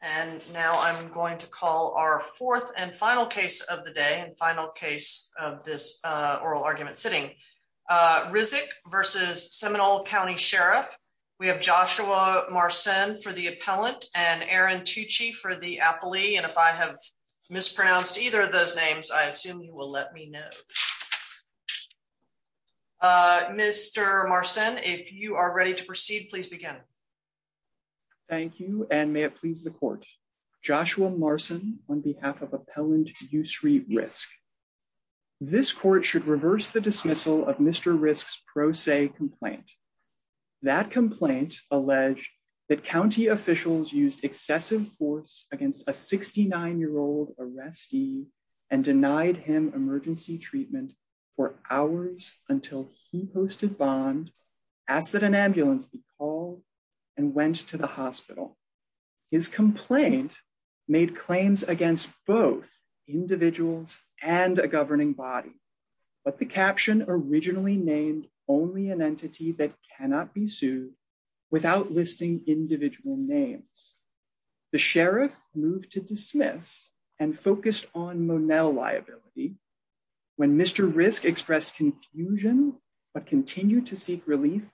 And now I'm going to call our fourth and final case of the day and final case of this oral argument sitting. Rizk v. Seminole County Sheriff. We have Joshua Marcin for the appellant and Aaron Tucci for the appellee. And if I have mispronounced either of those names, I assume you will let me know. Mr. Marcin, if you are ready to proceed, please begin. Mr. Marcin Thank you and may it please the court. Joshua Marcin on behalf of Appellant Ysry Rizk. This court should reverse the dismissal of Mr. Rizk's pro se complaint. That complaint alleged that county officials used excessive force against a 69 year old arrestee and denied him emergency treatment for hours until he posted bond, asked that an ambulance be called, and went to the hospital. His complaint made claims against both individuals and a governing body. But the caption originally named only an entity that cannot be sued without listing individual names. The sheriff moved to dismiss and focused on relief for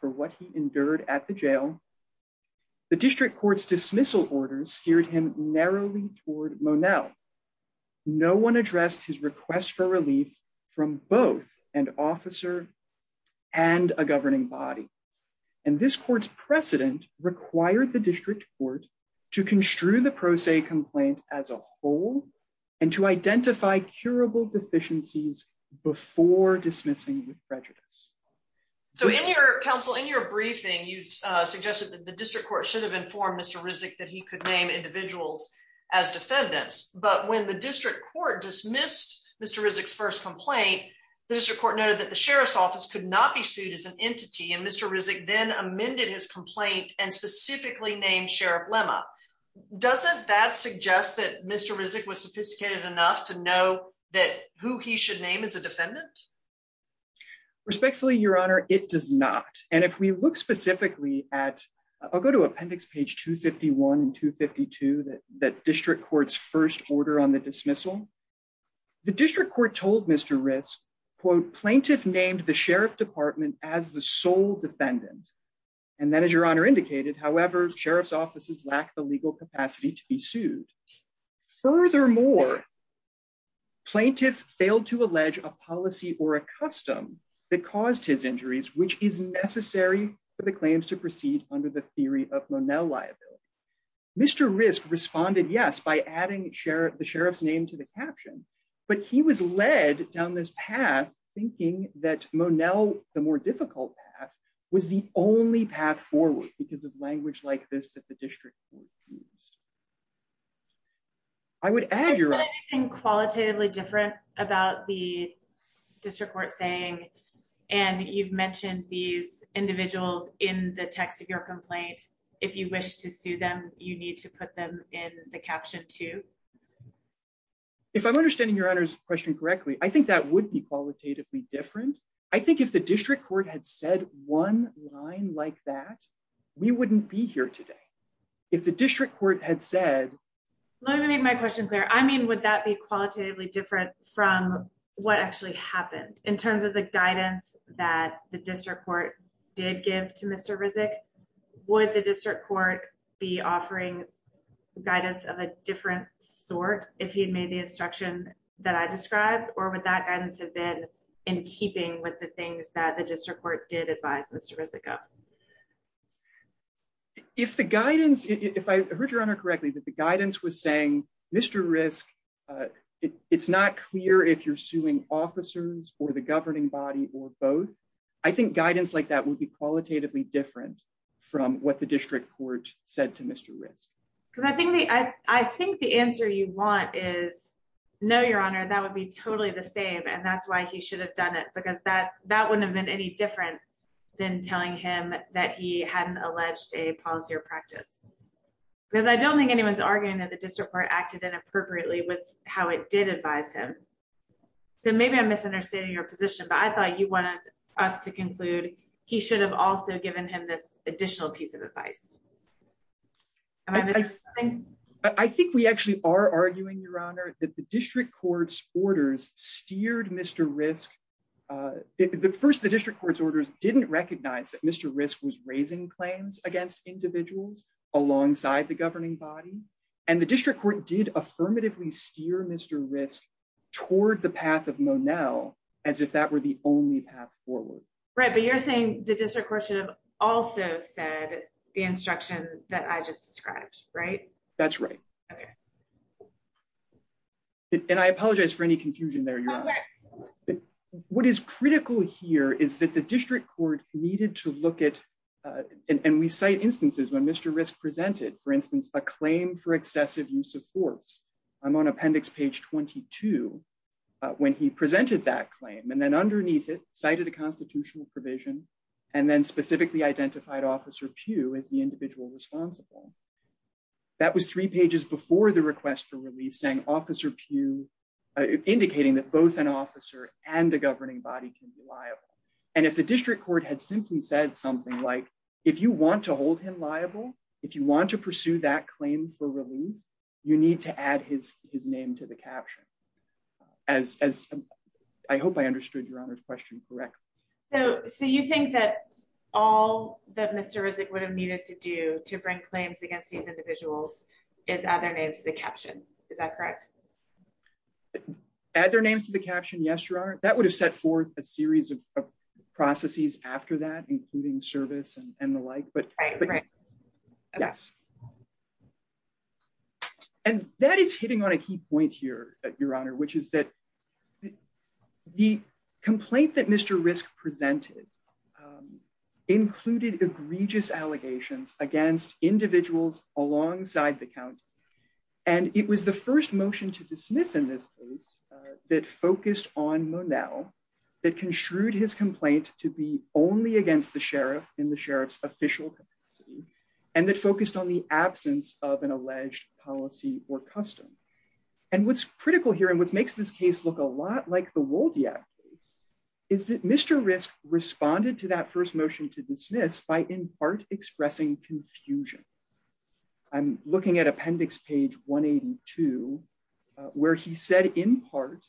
what he endured at the jail. The district court's dismissal orders steered him narrowly toward Monell. No one addressed his request for relief from both an officer and a governing body. And this court's precedent required the district court to construe the pro se complaint as a whole and to identify curable deficiencies before dismissing with prejudice. So in your counsel, in your briefing, you've suggested that the district court should have informed Mr. Rizk that he could name individuals as defendants. But when the district court dismissed Mr. Rizk's first complaint, the district court noted that the sheriff's office could not be sued as an entity and Mr. Rizk then amended his complaint and specifically named Sheriff Lemma. Doesn't that suggest that Mr. Rizk was sophisticated enough to know that who he should name as a defendant? Respectfully, Your Honor, it does not. And if we look specifically at, I'll go to appendix page 251 and 252, that district court's first order on the dismissal, the district court told Mr. Rizk, quote, plaintiff named the sheriff department as the sole defendant. And then as Your Honor indicated, however, sheriff's offices lack the legal capacity to be a policy or a custom that caused his injuries, which is necessary for the claims to proceed under the theory of Monell liability. Mr. Rizk responded, yes, by adding the sheriff's name to the caption, but he was led down this path thinking that Monell, the more difficult path, was the only path forward because of language like this that the district court used. I would add, Your Honor. Is there anything qualitatively different about the district court saying, and you've mentioned these individuals in the text of your complaint, if you wish to sue them, you need to put them in the caption too? If I'm understanding Your Honor's question correctly, I think that would be qualitatively different. I think if the district court had said one line like that, we wouldn't be here today. If the district court had said. Let me make my question clear. I mean, would that be qualitatively different from what actually happened in terms of the guidance that the district court did give to Mr. Rizk? Would the district court be offering guidance of a different sort if he had made the instruction that I described, or would that guidance have been in keeping with the things that the district court did advise Mr. Rizk of? If the guidance, if I heard Your Honor correctly, that the guidance was saying, Mr. Rizk, it's not clear if you're suing officers or the governing body or both. I think guidance like that would be qualitatively different from what the district court said to Mr. Rizk. Because I think the answer you want is, no, Your Honor, that would be totally the same, and that's why he should have done it because that wouldn't have been any different than telling him that he hadn't alleged a policy or practice. Because I don't think anyone's arguing that the district court acted inappropriately with how it did advise him. So maybe I'm misunderstanding your position, but I thought you wanted us to conclude he should have also given him this additional piece of advice. I think we actually are arguing, Your Honor, that the district court's orders steered Mr. Rizk. First, the district court's orders didn't recognize that Mr. Rizk was raising claims against individuals alongside the governing body, and the district court did affirmatively steer Mr. Rizk toward the path of Monell, as if that were the only path forward. Right, but you're saying the district court should have also said the instruction that I just described, right? That's right. And I apologize for any confusion there, Your Honor. What is critical here is that the district court needed to look at, and we cite instances when Mr. Rizk presented, for instance, a claim for excessive use of force. I'm on appendix page 22 when he presented that claim and then underneath it cited a constitutional provision and then specifically identified Officer Pugh as the individual responsible. That was three pages before the request for relief saying Officer Pugh, indicating that both an officer and a governing body can be liable. And if the district court had simply said something like, if you want to hold him liable, if you want to pursue that claim for relief, you need to add his name to the caption. I hope I understood Your Honor's question correctly. So you think that all that Mr. Rizk would have needed to do to bring claims against these individuals is add their names to the caption. Is that correct? Add their names to the caption. Yes, Your Honor. That would have set forth a series of processes after that, including service and the like, but yes. And that is hitting on a key point here, Your Honor, which is that the complaint that Mr. Rizk presented included egregious allegations against individuals alongside the county. And it was the first motion to dismiss in this case that focused on Monell that construed his complaint to be only against the sheriff in the sheriff's official capacity and that focused on the absence of an alleged policy or custom. And what's critical here and what makes this case look a lot like the Wolde Act case is that Mr. Rizk responded to that first motion to dismiss by in part expressing confusion. I'm looking at appendix page 182, where he said in part,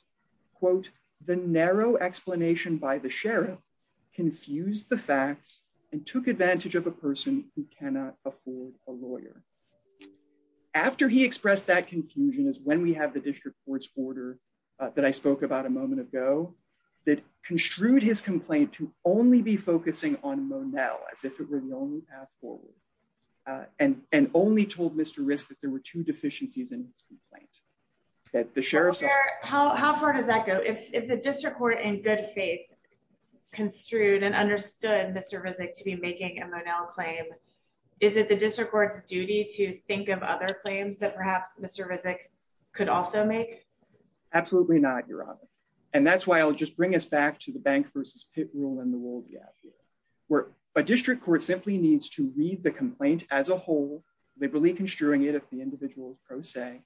quote, the narrow explanation by the sheriff confused the facts and took advantage of a person who cannot afford a lawyer. After he expressed that confusion is when we have the that I spoke about a moment ago that construed his complaint to only be focusing on Monell as if it were the only path forward and only told Mr. Rizk that there were two deficiencies in his complaint. How far does that go? If the district court in good faith construed and understood Mr. Rizk to be making a Monell claim, is it the district court's duty to think of other claims that perhaps Mr. Rizk could also make? Absolutely not, Your Honor. And that's why I'll just bring us back to the bank versus pit rule in the Wolde Act where a district court simply needs to read the complaint as a whole, liberally construing it if the individual is pro se.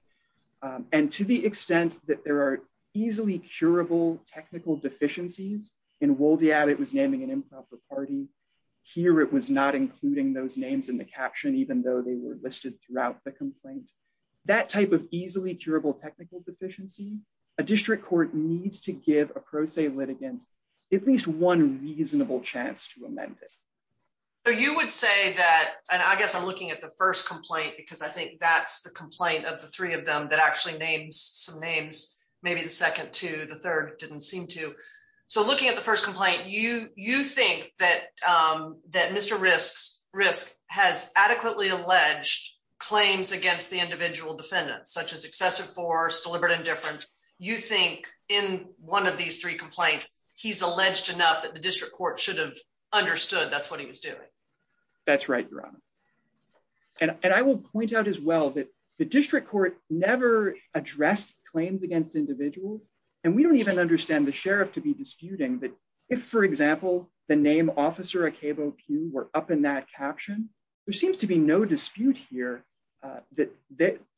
And to the extent that there are easily curable technical deficiencies in Wolde Act, it was naming an improper party. Here it was not including those names in the caption, even though they were listed throughout the complaint. That type of easily curable technical deficiency, a district court needs to give a pro se litigant at least one reasonable chance to amend it. So you would say that, and I guess I'm looking at the first complaint because I think that's the complaint of the three of them that actually names some names, maybe the second two, the third didn't seem to. So looking at the against the individual defendants, such as excessive force, deliberate indifference, you think in one of these three complaints, he's alleged enough that the district court should have understood that's what he was doing. That's right, Your Honor. And I will point out as well that the district court never addressed claims against individuals. And we don't even understand the sheriff to be disputing that if, for example, the name Officer Akebo Pugh were up in that caption, there seems to be no dispute here that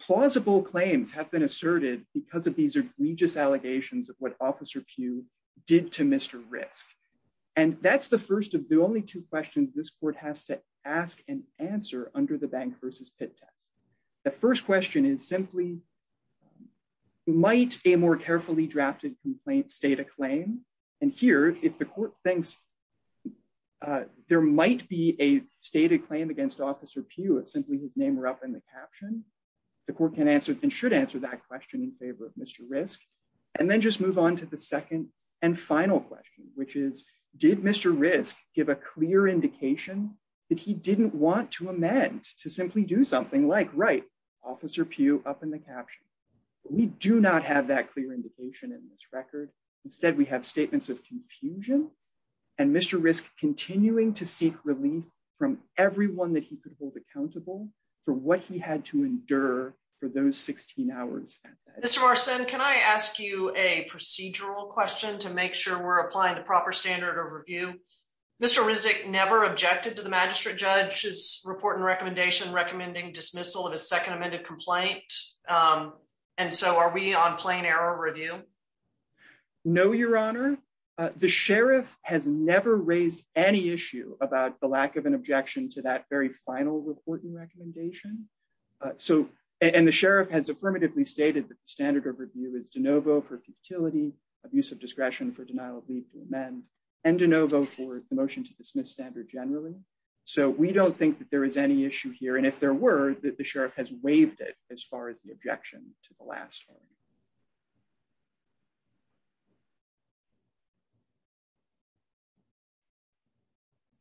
plausible claims have been asserted because of these egregious allegations of what Officer Pugh did to Mr. Risk. And that's the first of the only two questions this court has to ask and answer under the bank versus pit test. The first question is might a more carefully drafted complaint state a claim? And here, if the court thinks that there might be a stated claim against Officer Pugh, if simply his name were up in the caption, the court can answer and should answer that question in favor of Mr. Risk. And then just move on to the second and final question, which is did Mr. Risk give a clear indication that he didn't want to amend to simply do something like write Officer Pugh up in the caption. We do not have that clear indication in this record. Instead, we have statements of confusion. And Mr. Risk continuing to seek relief from everyone that he could hold accountable for what he had to endure for those 16 hours spent. Mr. Marcin, can I ask you a procedural question to make sure we're applying the proper standard of review? Mr. Rizek never objected to the magistrate judge's report and recommendation recommending dismissal of a second amended complaint. And so are we on plain error review? No, Your Honor. The sheriff has never raised any issue about the lack of an objection to that very final reporting recommendation. So, and the sheriff has affirmatively stated that the standard of review is de novo for futility, abuse of discretion for denial of leave to amend and de novo for the motion to dismiss standard generally. So we don't think that there is any issue here. And if there were that the sheriff has waived it as far as the objection to the last one.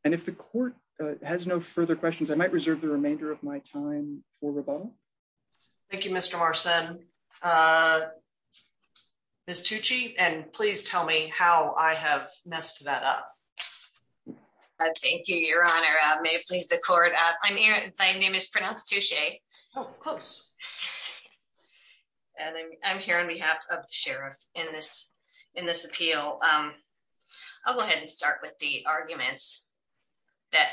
And if the court has no further questions, I might reserve the remainder of my time for rebuttal. Thank you, Mr. Marcin. Ms. Tucci, and please tell me how I have messed that up. Thank you, Your Honor. May it please the court. I'm Erin, my name is pronounced Tucci. Oh, close. And I'm here on behalf of the sheriff in this, in this appeal. I'll go ahead and start with the arguments that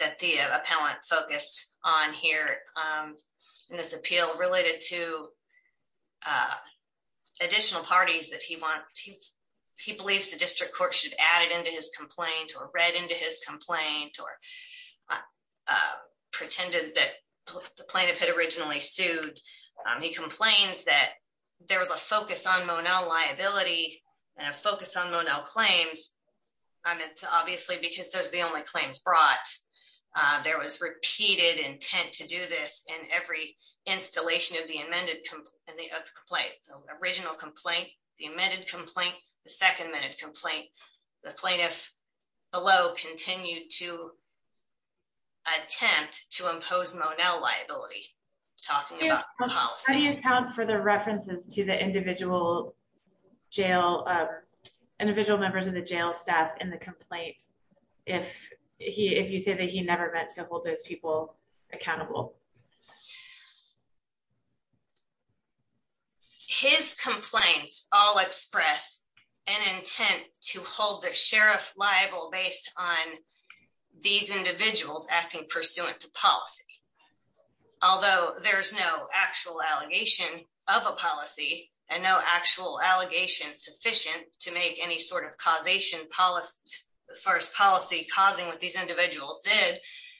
that the appellant focused on here in this appeal related to additional parties that he wants to, he believes the district court should add it into his complaint or read into his complaint or pretended that the plaintiff had originally sued. He complains that there was a focus on Monell liability and a focus on Monell claims. And it's obviously because those are the only claims brought. There was repeated intent to do this in every installation of the amended and the original complaint, the amended complaint, the second minute complaint, the plaintiff below continued to attempt to impose Monell liability. How do you account for the references to the individual jail, individual members of the jail staff in the complaint? If he, if you say that he never meant to hold those people accountable, his complaints all express an intent to hold the sheriff liable based on these individuals acting pursuant to policy. Although there's no actual allegation of a policy and no actual allegations sufficient to make any sort of causation policy as far as policy causing what these individuals did,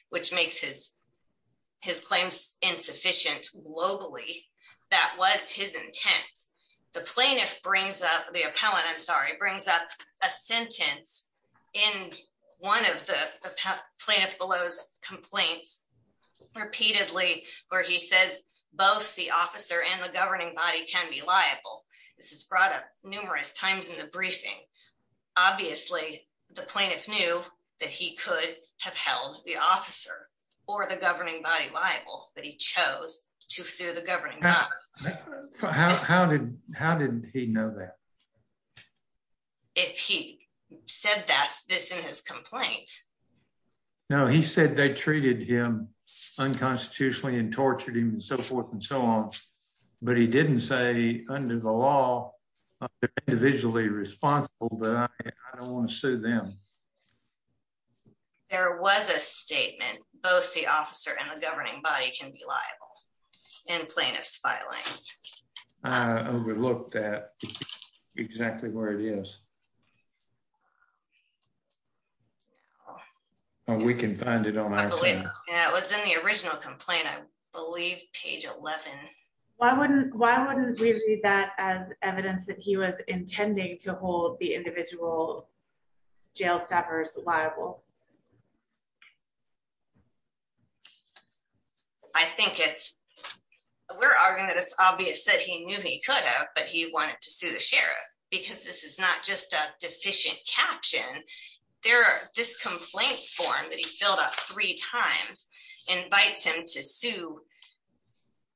which makes his claims insufficient globally. That was his intent. The plaintiff brings up the appellant, I'm sorry, brings up a sentence in one of the plaintiff below's complaints repeatedly where he says both the officer and the governing body can be liable. This is brought up or the governing body liable that he chose to sue the governing. How did, how did he know that? If he said that's this in his complaint. No, he said they treated him unconstitutionally and tortured him and so forth and so on, but he didn't say under the law, individually responsible, but I don't want to sue them. There was a statement, both the officer and the governing body can be liable in plaintiff's filings. I overlooked that exactly where it is. We can find it on our team. It was in the original complaint, I believe page 11. Why wouldn't, why wouldn't we read that as evidence that he was intending to hold the individual jail stoppers liable? I think it's, we're arguing that it's obvious that he knew he could have, but he wanted to sue the sheriff because this is not just a deficient caption. There are, this complaint form that he filled out three times invites him to sue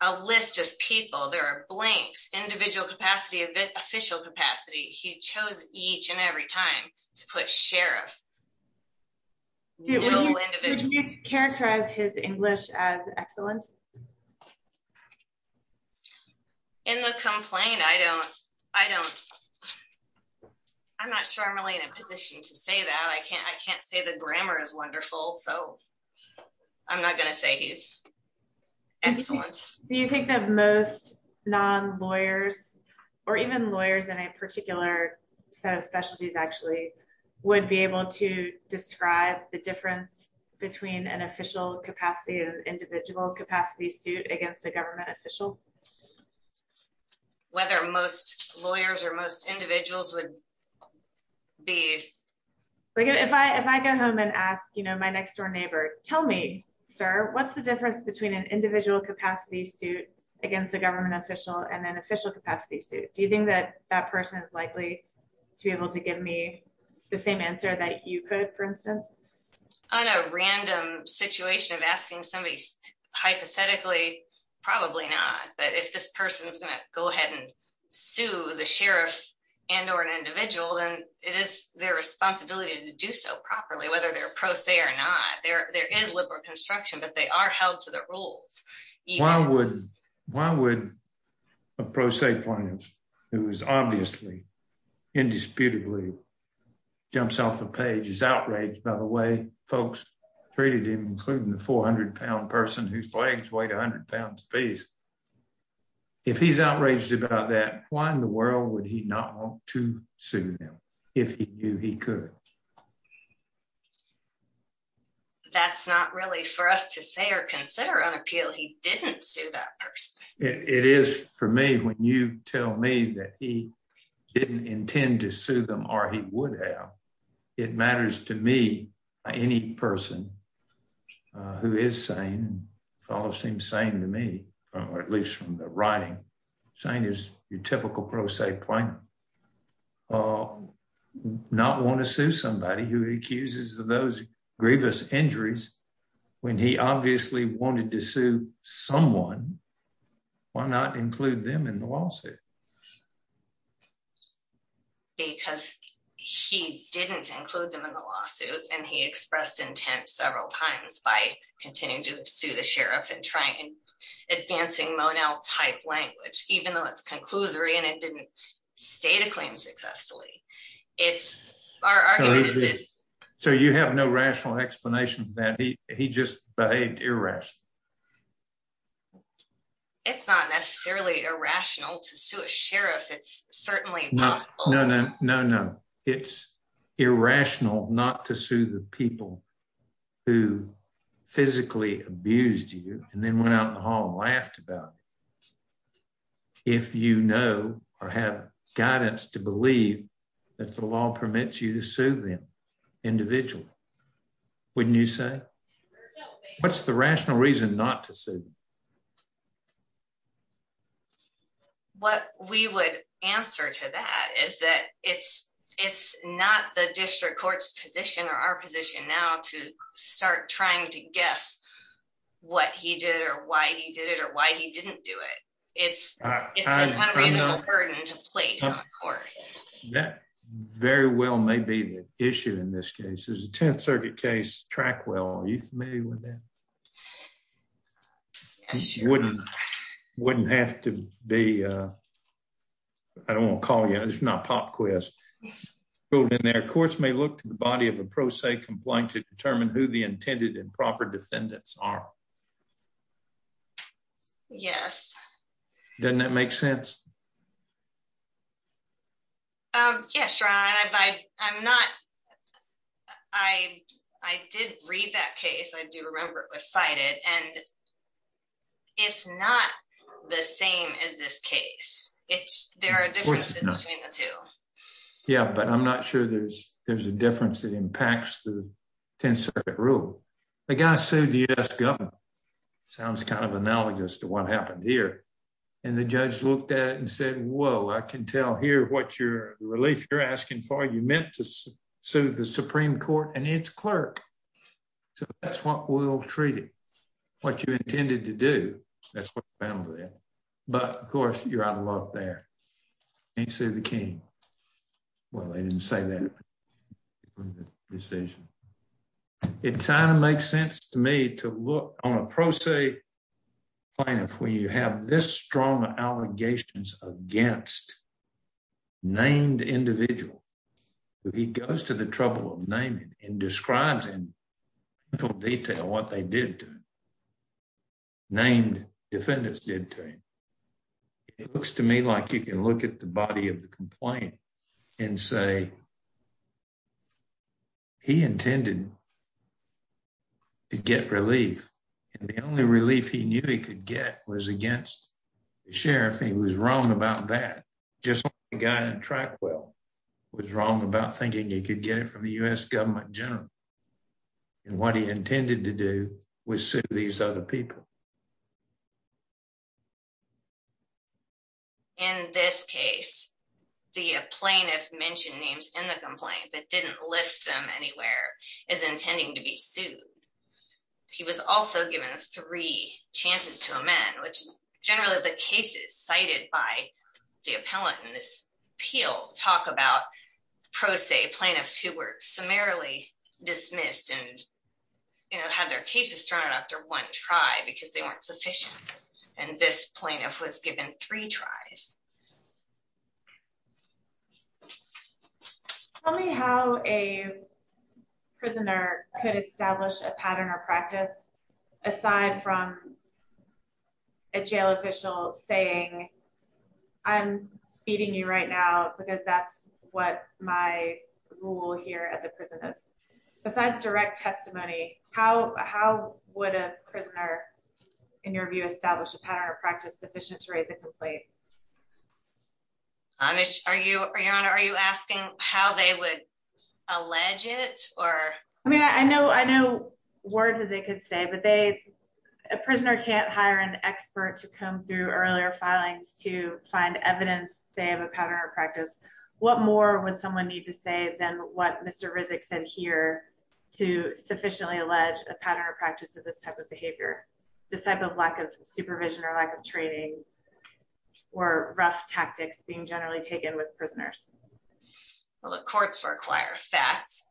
a list of people. There are blanks, a bit official capacity. He chose each and every time to put sheriff. Characterize his English as excellent. In the complaint, I don't, I don't, I'm not sure I'm really in a position to say that. I can't, I can't say the grammar is wonderful, so I'm not going to say he's excellent. Do you think that most non-lawyers or even lawyers in a particular set of specialties, actually, would be able to describe the difference between an official capacity and an individual capacity suit against a government official? Whether most lawyers or most individuals would be. If I, if I go home and ask, you know, my next door neighbor, tell me, sir, what's the difference between an individual capacity suit against a government official and an official capacity suit? Do you think that that person is likely to be able to give me the same answer that you could, for instance, on a random situation of asking somebody hypothetically, probably not. But if this person is going to go ahead and sue the sheriff and, or an individual, then it is their responsibility to do so properly, whether they're pro se or not there is liberal construction, but they are held to the rules. Why would, why would a pro se plaintiff, who is obviously indisputably jumps off the page, is outraged by the way folks treated him, including the 400 pound person whose legs weighed 100 pounds apiece. If he's outraged about that, why in the world would he not want to sue if he knew he could. That's not really for us to say or consider an appeal. He didn't sue that person. It is for me, when you tell me that he didn't intend to sue them or he would have, it matters to me, any person who is sane, seems sane to me, or at least from the writing, sane is your typical pro se plaintiff, not want to sue somebody who accuses of those grievous injuries when he obviously wanted to sue someone, why not include them in the lawsuit? Because he didn't include them in the lawsuit and he expressed intent several times by continuing to sue the sheriff and try and advancing Monel type language, even though it's conclusory and it didn't state a claim successfully. It's our argument. So you have no rational explanation for that. He just behaved irrationally. It's not necessarily irrational to sue a sheriff. It's certainly not. No, no, no, no. It's irrational not to sue the people who physically abused you and then went out in the hall and laughed about it. If you know or have guidance to believe that the law permits you to sue them individually, wouldn't you say? What's the rational reason not to sue? What we would answer to that is that it's it's not the district court's position or our position now to start trying to guess what he did or why he did it or why he didn't do it. It's it's a kind of reasonable burden to place on the court. That very well may be the issue in this is a 10th Circuit case track. Well, are you familiar with that? Wouldn't have to be. I don't want to call you. It's not pop quiz. Their courts may look to the body of a pro se complaint to determine who the intended and proper defendants are. Yes. Doesn't that make sense? Um, yes, right. I'm not. I I did read that case. I do remember it was cited. And it's not the same as this case. It's there are differences between the two. Yeah, but I'm not sure there's there's a difference that impacts the 10th Circuit rule. The guy sued the US government. Sounds kind of analogous to what happened here. And the judge looked at it and said, Whoa, I can tell here what your relief you're asking for. You meant to sue the Supreme Court and its clerk. So that's what we'll treat it. What you intended to do. That's what I found there. But of course, you're out of luck there. He sued the king. Well, I didn't say that decision. It kind of makes sense to me to look on a pro se plaintiff where you have this strong allegations against named individual. He goes to the trouble of naming and describes in full detail what they did to named defendants did to him. It looks to me like you can look at the body of the complaint and say he intended to get relief. And the only relief he knew he could get was against the sheriff. He was wrong about that. Just a guy in track. Well, was wrong about thinking you could get it from the US government general. And what he intended to do was sue these other people. In this case, the plaintiff mentioned names in the complaint, but didn't list them anywhere as intending to be sued. He was also given three chances to amend, which generally the cases cited by the appellant in this appeal talk about pro se plaintiffs who were summarily dismissed and had their cases thrown after one try because they weren't sufficient. And this plaintiff was given three tries. Tell me how a prisoner could establish a pattern or practice aside from a jail official saying, I'm beating you right now because that's what my rule here at the prison is. Besides direct testimony, how would a prisoner, in your view, establish a pattern or practice sufficient to raise a complaint? Are you asking how they would allege it? I mean, I know words that they could say, but a prisoner can't hire an expert to come through earlier filings to find evidence, say, of a pattern or practice. What more would someone need to say than what Mr. Rizek said here to sufficiently allege a pattern or practice of this type of behavior, this type of lack of supervision or lack of training or rough tactics being generally taken with prisoners? Well, the courts require facts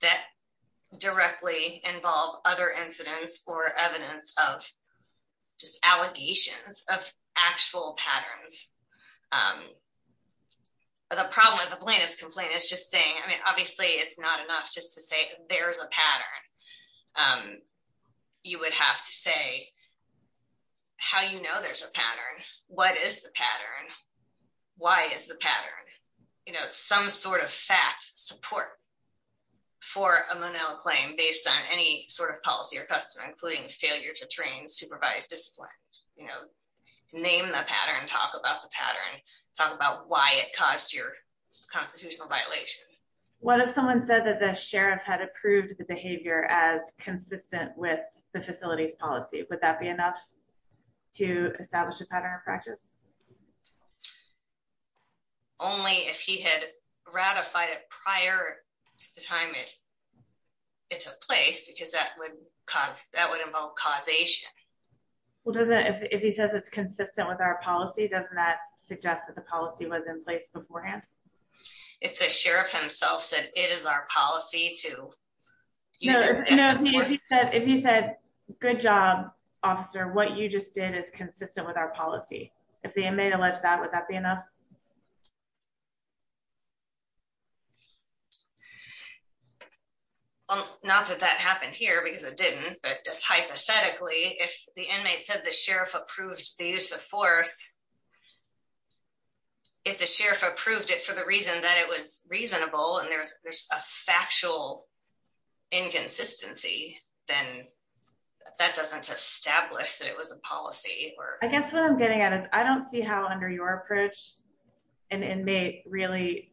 that directly involve other incidents or evidence of just allegations of actual patterns. The problem with the plaintiff's complaint is obviously it's not enough just to say there's a pattern. You would have to say how you know there's a pattern. What is the pattern? Why is the pattern? Some sort of fact support for a Monell claim based on any sort of policy or custom, including failure to train, supervise, discipline. Name the pattern, talk about the pattern, talk about why it caused your violation. What if someone said that the sheriff had approved the behavior as consistent with the facility's policy? Would that be enough to establish a pattern of practice? Only if he had ratified it prior to the time it took place because that would cause that would involve causation. Well, if he says it's consistent with our policy, doesn't that suggest that the policy was in place beforehand? If the sheriff himself said it is our policy to if you said good job officer, what you just did is consistent with our policy. If the inmate alleged that, would that be enough? Well, not that that happened here because it didn't, but just hypothetically, if the inmate said the sheriff approved the use of force, if the sheriff approved it for the reason that it was reasonable and there's a factual inconsistency, then that doesn't establish that it was a policy. I guess what I'm getting at is I don't see how under your approach an inmate really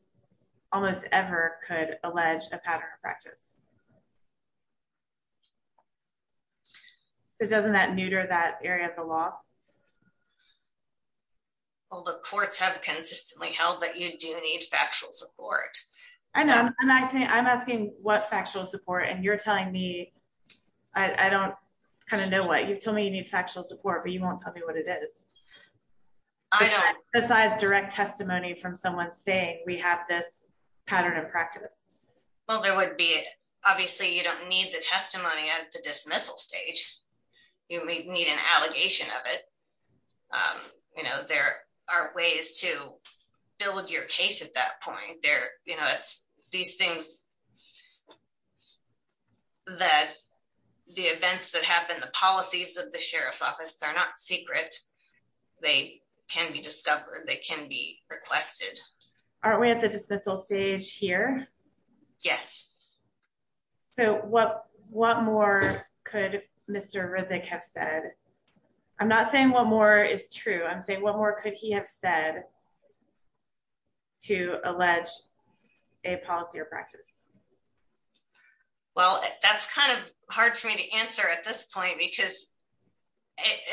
almost ever could allege a pattern of practice. So, doesn't that neuter that area of the law? Well, the courts have consistently held that you do need factual support. I know. I'm asking what factual support and you're telling me, I don't kind of know what. You've told me you need factual support, but you won't tell me what it is. I don't. Besides direct testimony from someone saying we have this pattern of practice. Well, there would be, obviously, you don't need the testimony at the dismissal stage. You may need an allegation of it. There are ways to build your case at that point. These things, the events that happen, the policies of the sheriff's office, they're not secret. They can be discovered. They can be requested. Aren't we at the dismissal stage here? Yes. So, what more could Mr. Rizek have said? I'm not saying what more is true. I'm saying what more could he have said to allege a policy or practice? Well, that's kind of hard for me to answer at this point because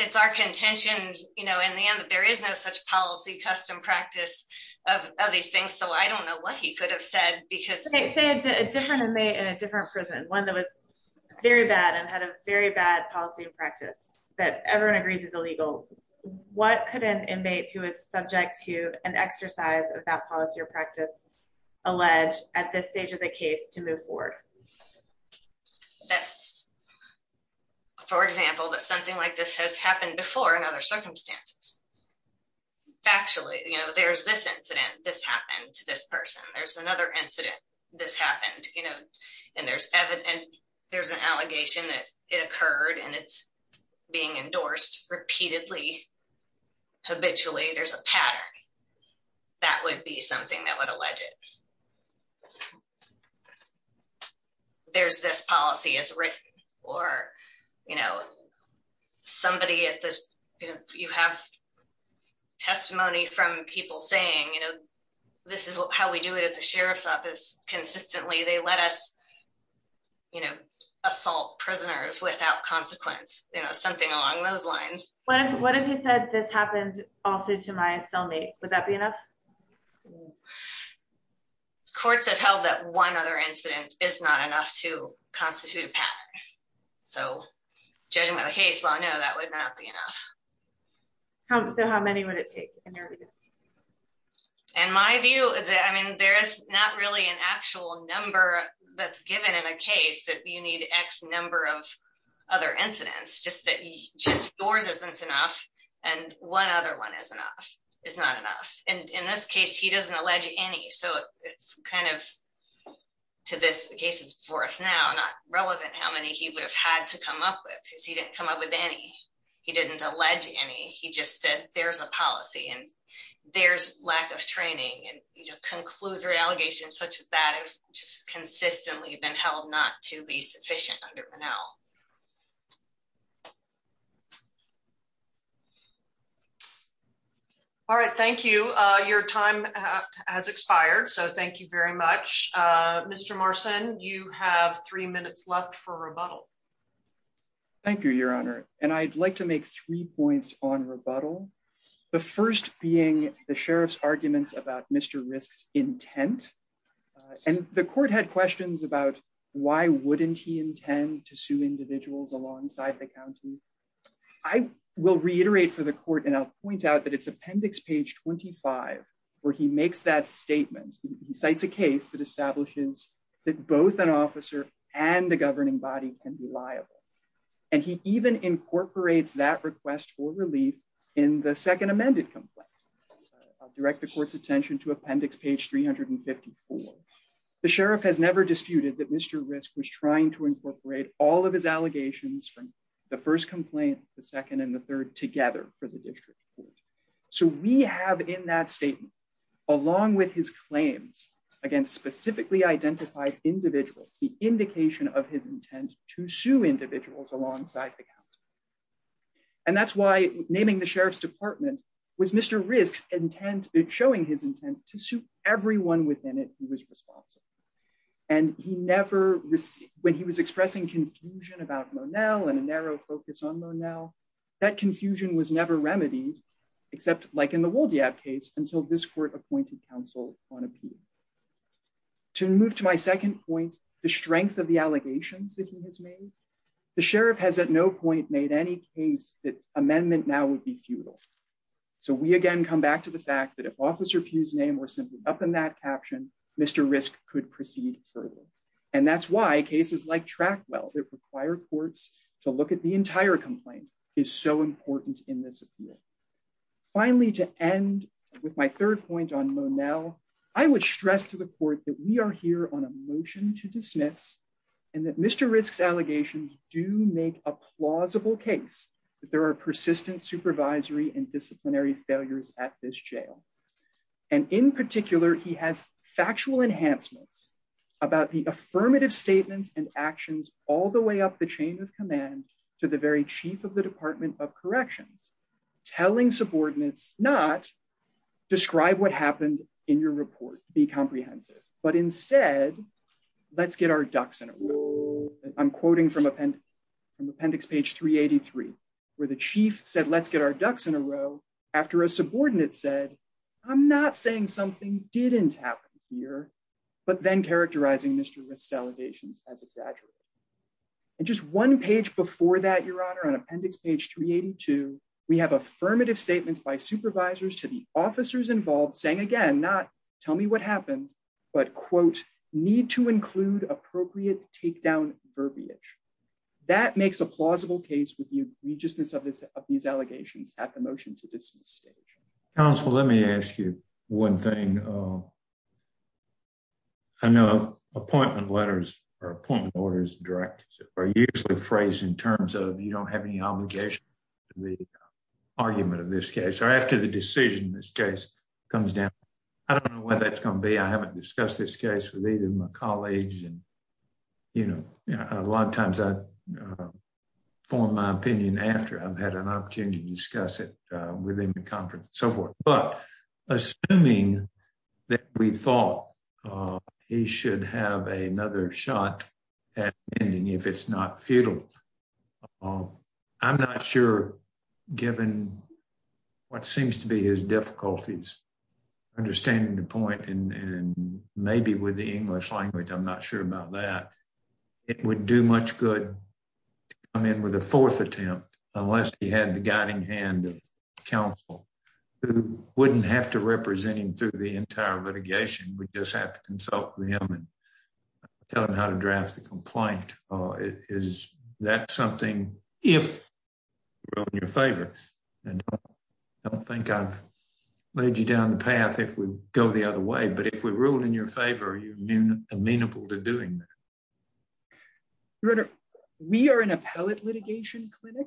it's our contention in the end that there is no such policy custom practice of these things. So, I don't know what he could have said. Say a different inmate in a different prison, one that was very bad and had a very bad policy and practice that everyone agrees is illegal. What could an inmate who is subject to an exercise of that policy or practice allege at this stage of the case to move forward? That's, for example, that something like this has happened before in other circumstances. Factually, you know, there's this incident. This happened to this person. There's another incident. This happened, you know, and there's an allegation that it occurred and it's being endorsed repeatedly, habitually. There's a pattern. That would be something that would allege it. There's this policy. It's written or, you know, somebody at this, you know, you have testimony from people saying, this is how we do it at the sheriff's office. Consistently, they let us, you know, assault prisoners without consequence, you know, something along those lines. What if he said this happened also to my cellmate? Would that be enough? Courts have held that one other incident is not enough to constitute a pattern. So, judging by the case law, no, that would not be enough. So, how many would it take? In my view, I mean, there's not really an actual number that's given in a case that you need X number of other incidents. Just that yours isn't enough and one other one is enough, is not enough. And in this case, he doesn't allege any. So, it's kind of, to this case before us now, not relevant how many he would have had to come up with because he didn't come up with any. He didn't allege any. He just said there's a policy and there's lack of training and, you know, conclusive allegations such that have just consistently been held not to be sufficient. All right. Thank you. Your time has expired. So, thank you very much. Mr. Marcin, you have three minutes left for rebuttal. Thank you, Your Honor. And I'd like to make three points on rebuttal. The first being the sheriff's arguments about Mr. Risk's intent. And the court had questions about why wouldn't he intend to sue individuals alongside the county. I will reiterate for the court and I'll point out that it's appendix page 25 where he makes that statement. He cites a case that establishes that both an officer and the governing body can be liable. And he even incorporates that request for relief in the second amended complaint. I'll direct the court's attention to appendix page 354. The sheriff has never disputed that Mr. Risk was trying to incorporate all of his allegations from the first complaint, the second, and the third together for the district court. So, we have in that statement, along with his claims against specifically identified individuals, the indication of his intent to sue individuals alongside the county. And that's why naming the sheriff's department was Mr. Risk's intent, showing his intent to sue everyone within it who was responsible. And he never, when he was expressing confusion about Monel and a narrow focus on Monel, that confusion was never remedied, except like in the Woldeab case, until this court appointed counsel on appeal. To move to my second point, the strength of the allegations that he has made, the sheriff has at no point made any case that amendment now would be futile. So, we again come back to the fact that if Officer Pugh's name were simply up in that caption, Mr. Risk could proceed further. And that's why cases like Trackwell that require courts to look at the entire complaint is so important in this appeal. Finally, to end with my third point on Monel, I would stress to the court that we are here on a motion to dismiss and that Mr. Risk's allegations do make a plausible case that there are persistent supervisory and disciplinary failures at this jail. And in particular, he has factual enhancements about the affirmative statements and actions all the way up the chain of command to the very chief of the Department of Corrections, telling subordinates not describe what happened in your report, be comprehensive, but instead, let's get our ducks in a row. I'm quoting from appendix page 383, where the chief said, let's get our ducks in a row after a subordinate said, I'm not saying something didn't happen here, but then characterizing Mr. Risk's allegations as exaggerated. And just one page before that, Your Honor, on appendix page 382, we have affirmative statements by supervisors to the officers involved saying again, not tell me what happened, but quote, need to include appropriate takedown verbiage. That makes a plausible case with the egregiousness of these allegations at the motion to dismiss stage. Counsel, let me ask you one thing. I know appointment letters or appointment orders are usually phrased in terms of you don't have any obligation to the argument of this case or after the decision in this case comes down. I don't know what that's going to be. I haven't discussed this case with either of my colleagues. And a lot of times I form my opinion after I've had an opportunity to discuss it within the conference and so forth. But assuming that we thought he should have another shot at ending if it's not futile, I'm not sure, given what seems to be his difficulties, understanding the point and maybe with the English language, I'm not sure about that. It would do much good to come in with a fourth attempt unless he had the guiding hand of counsel who wouldn't have to represent him through the entire litigation. We just have to consult with him and tell him how to draft the complaint. Is that something, if you're in your favor, and I don't think I've laid you down the path if we go the other way, but if we ruled in your favor, are you amenable to doing that? Your Honor, we are an appellate litigation clinic,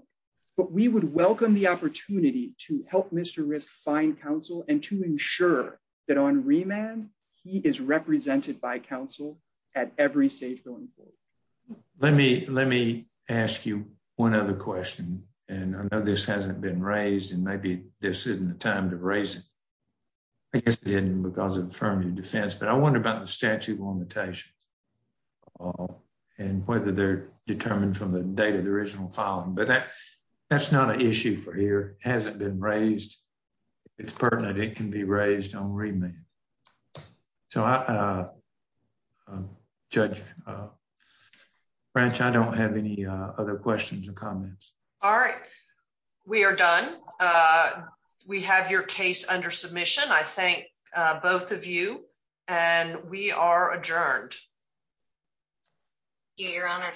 but we would welcome the opportunity to help Mr. Risk find counsel and to ensure that on remand, he is represented by counsel at every stage going forward. Let me ask you one other question. And I know this hasn't been raised and maybe this isn't the time to raise it. I guess it didn't because of affirmative defense. But I wonder about the statute of limitations and whether they're determined from the date of the original filing. But that's not an issue for here. It hasn't been raised. It's pertinent. It can be raised on remand. So Judge Branch, I don't have any other questions or comments. All right. We are done. We have your case under submission. I thank both of you. And we are adjourned. Thank you, Your Honor.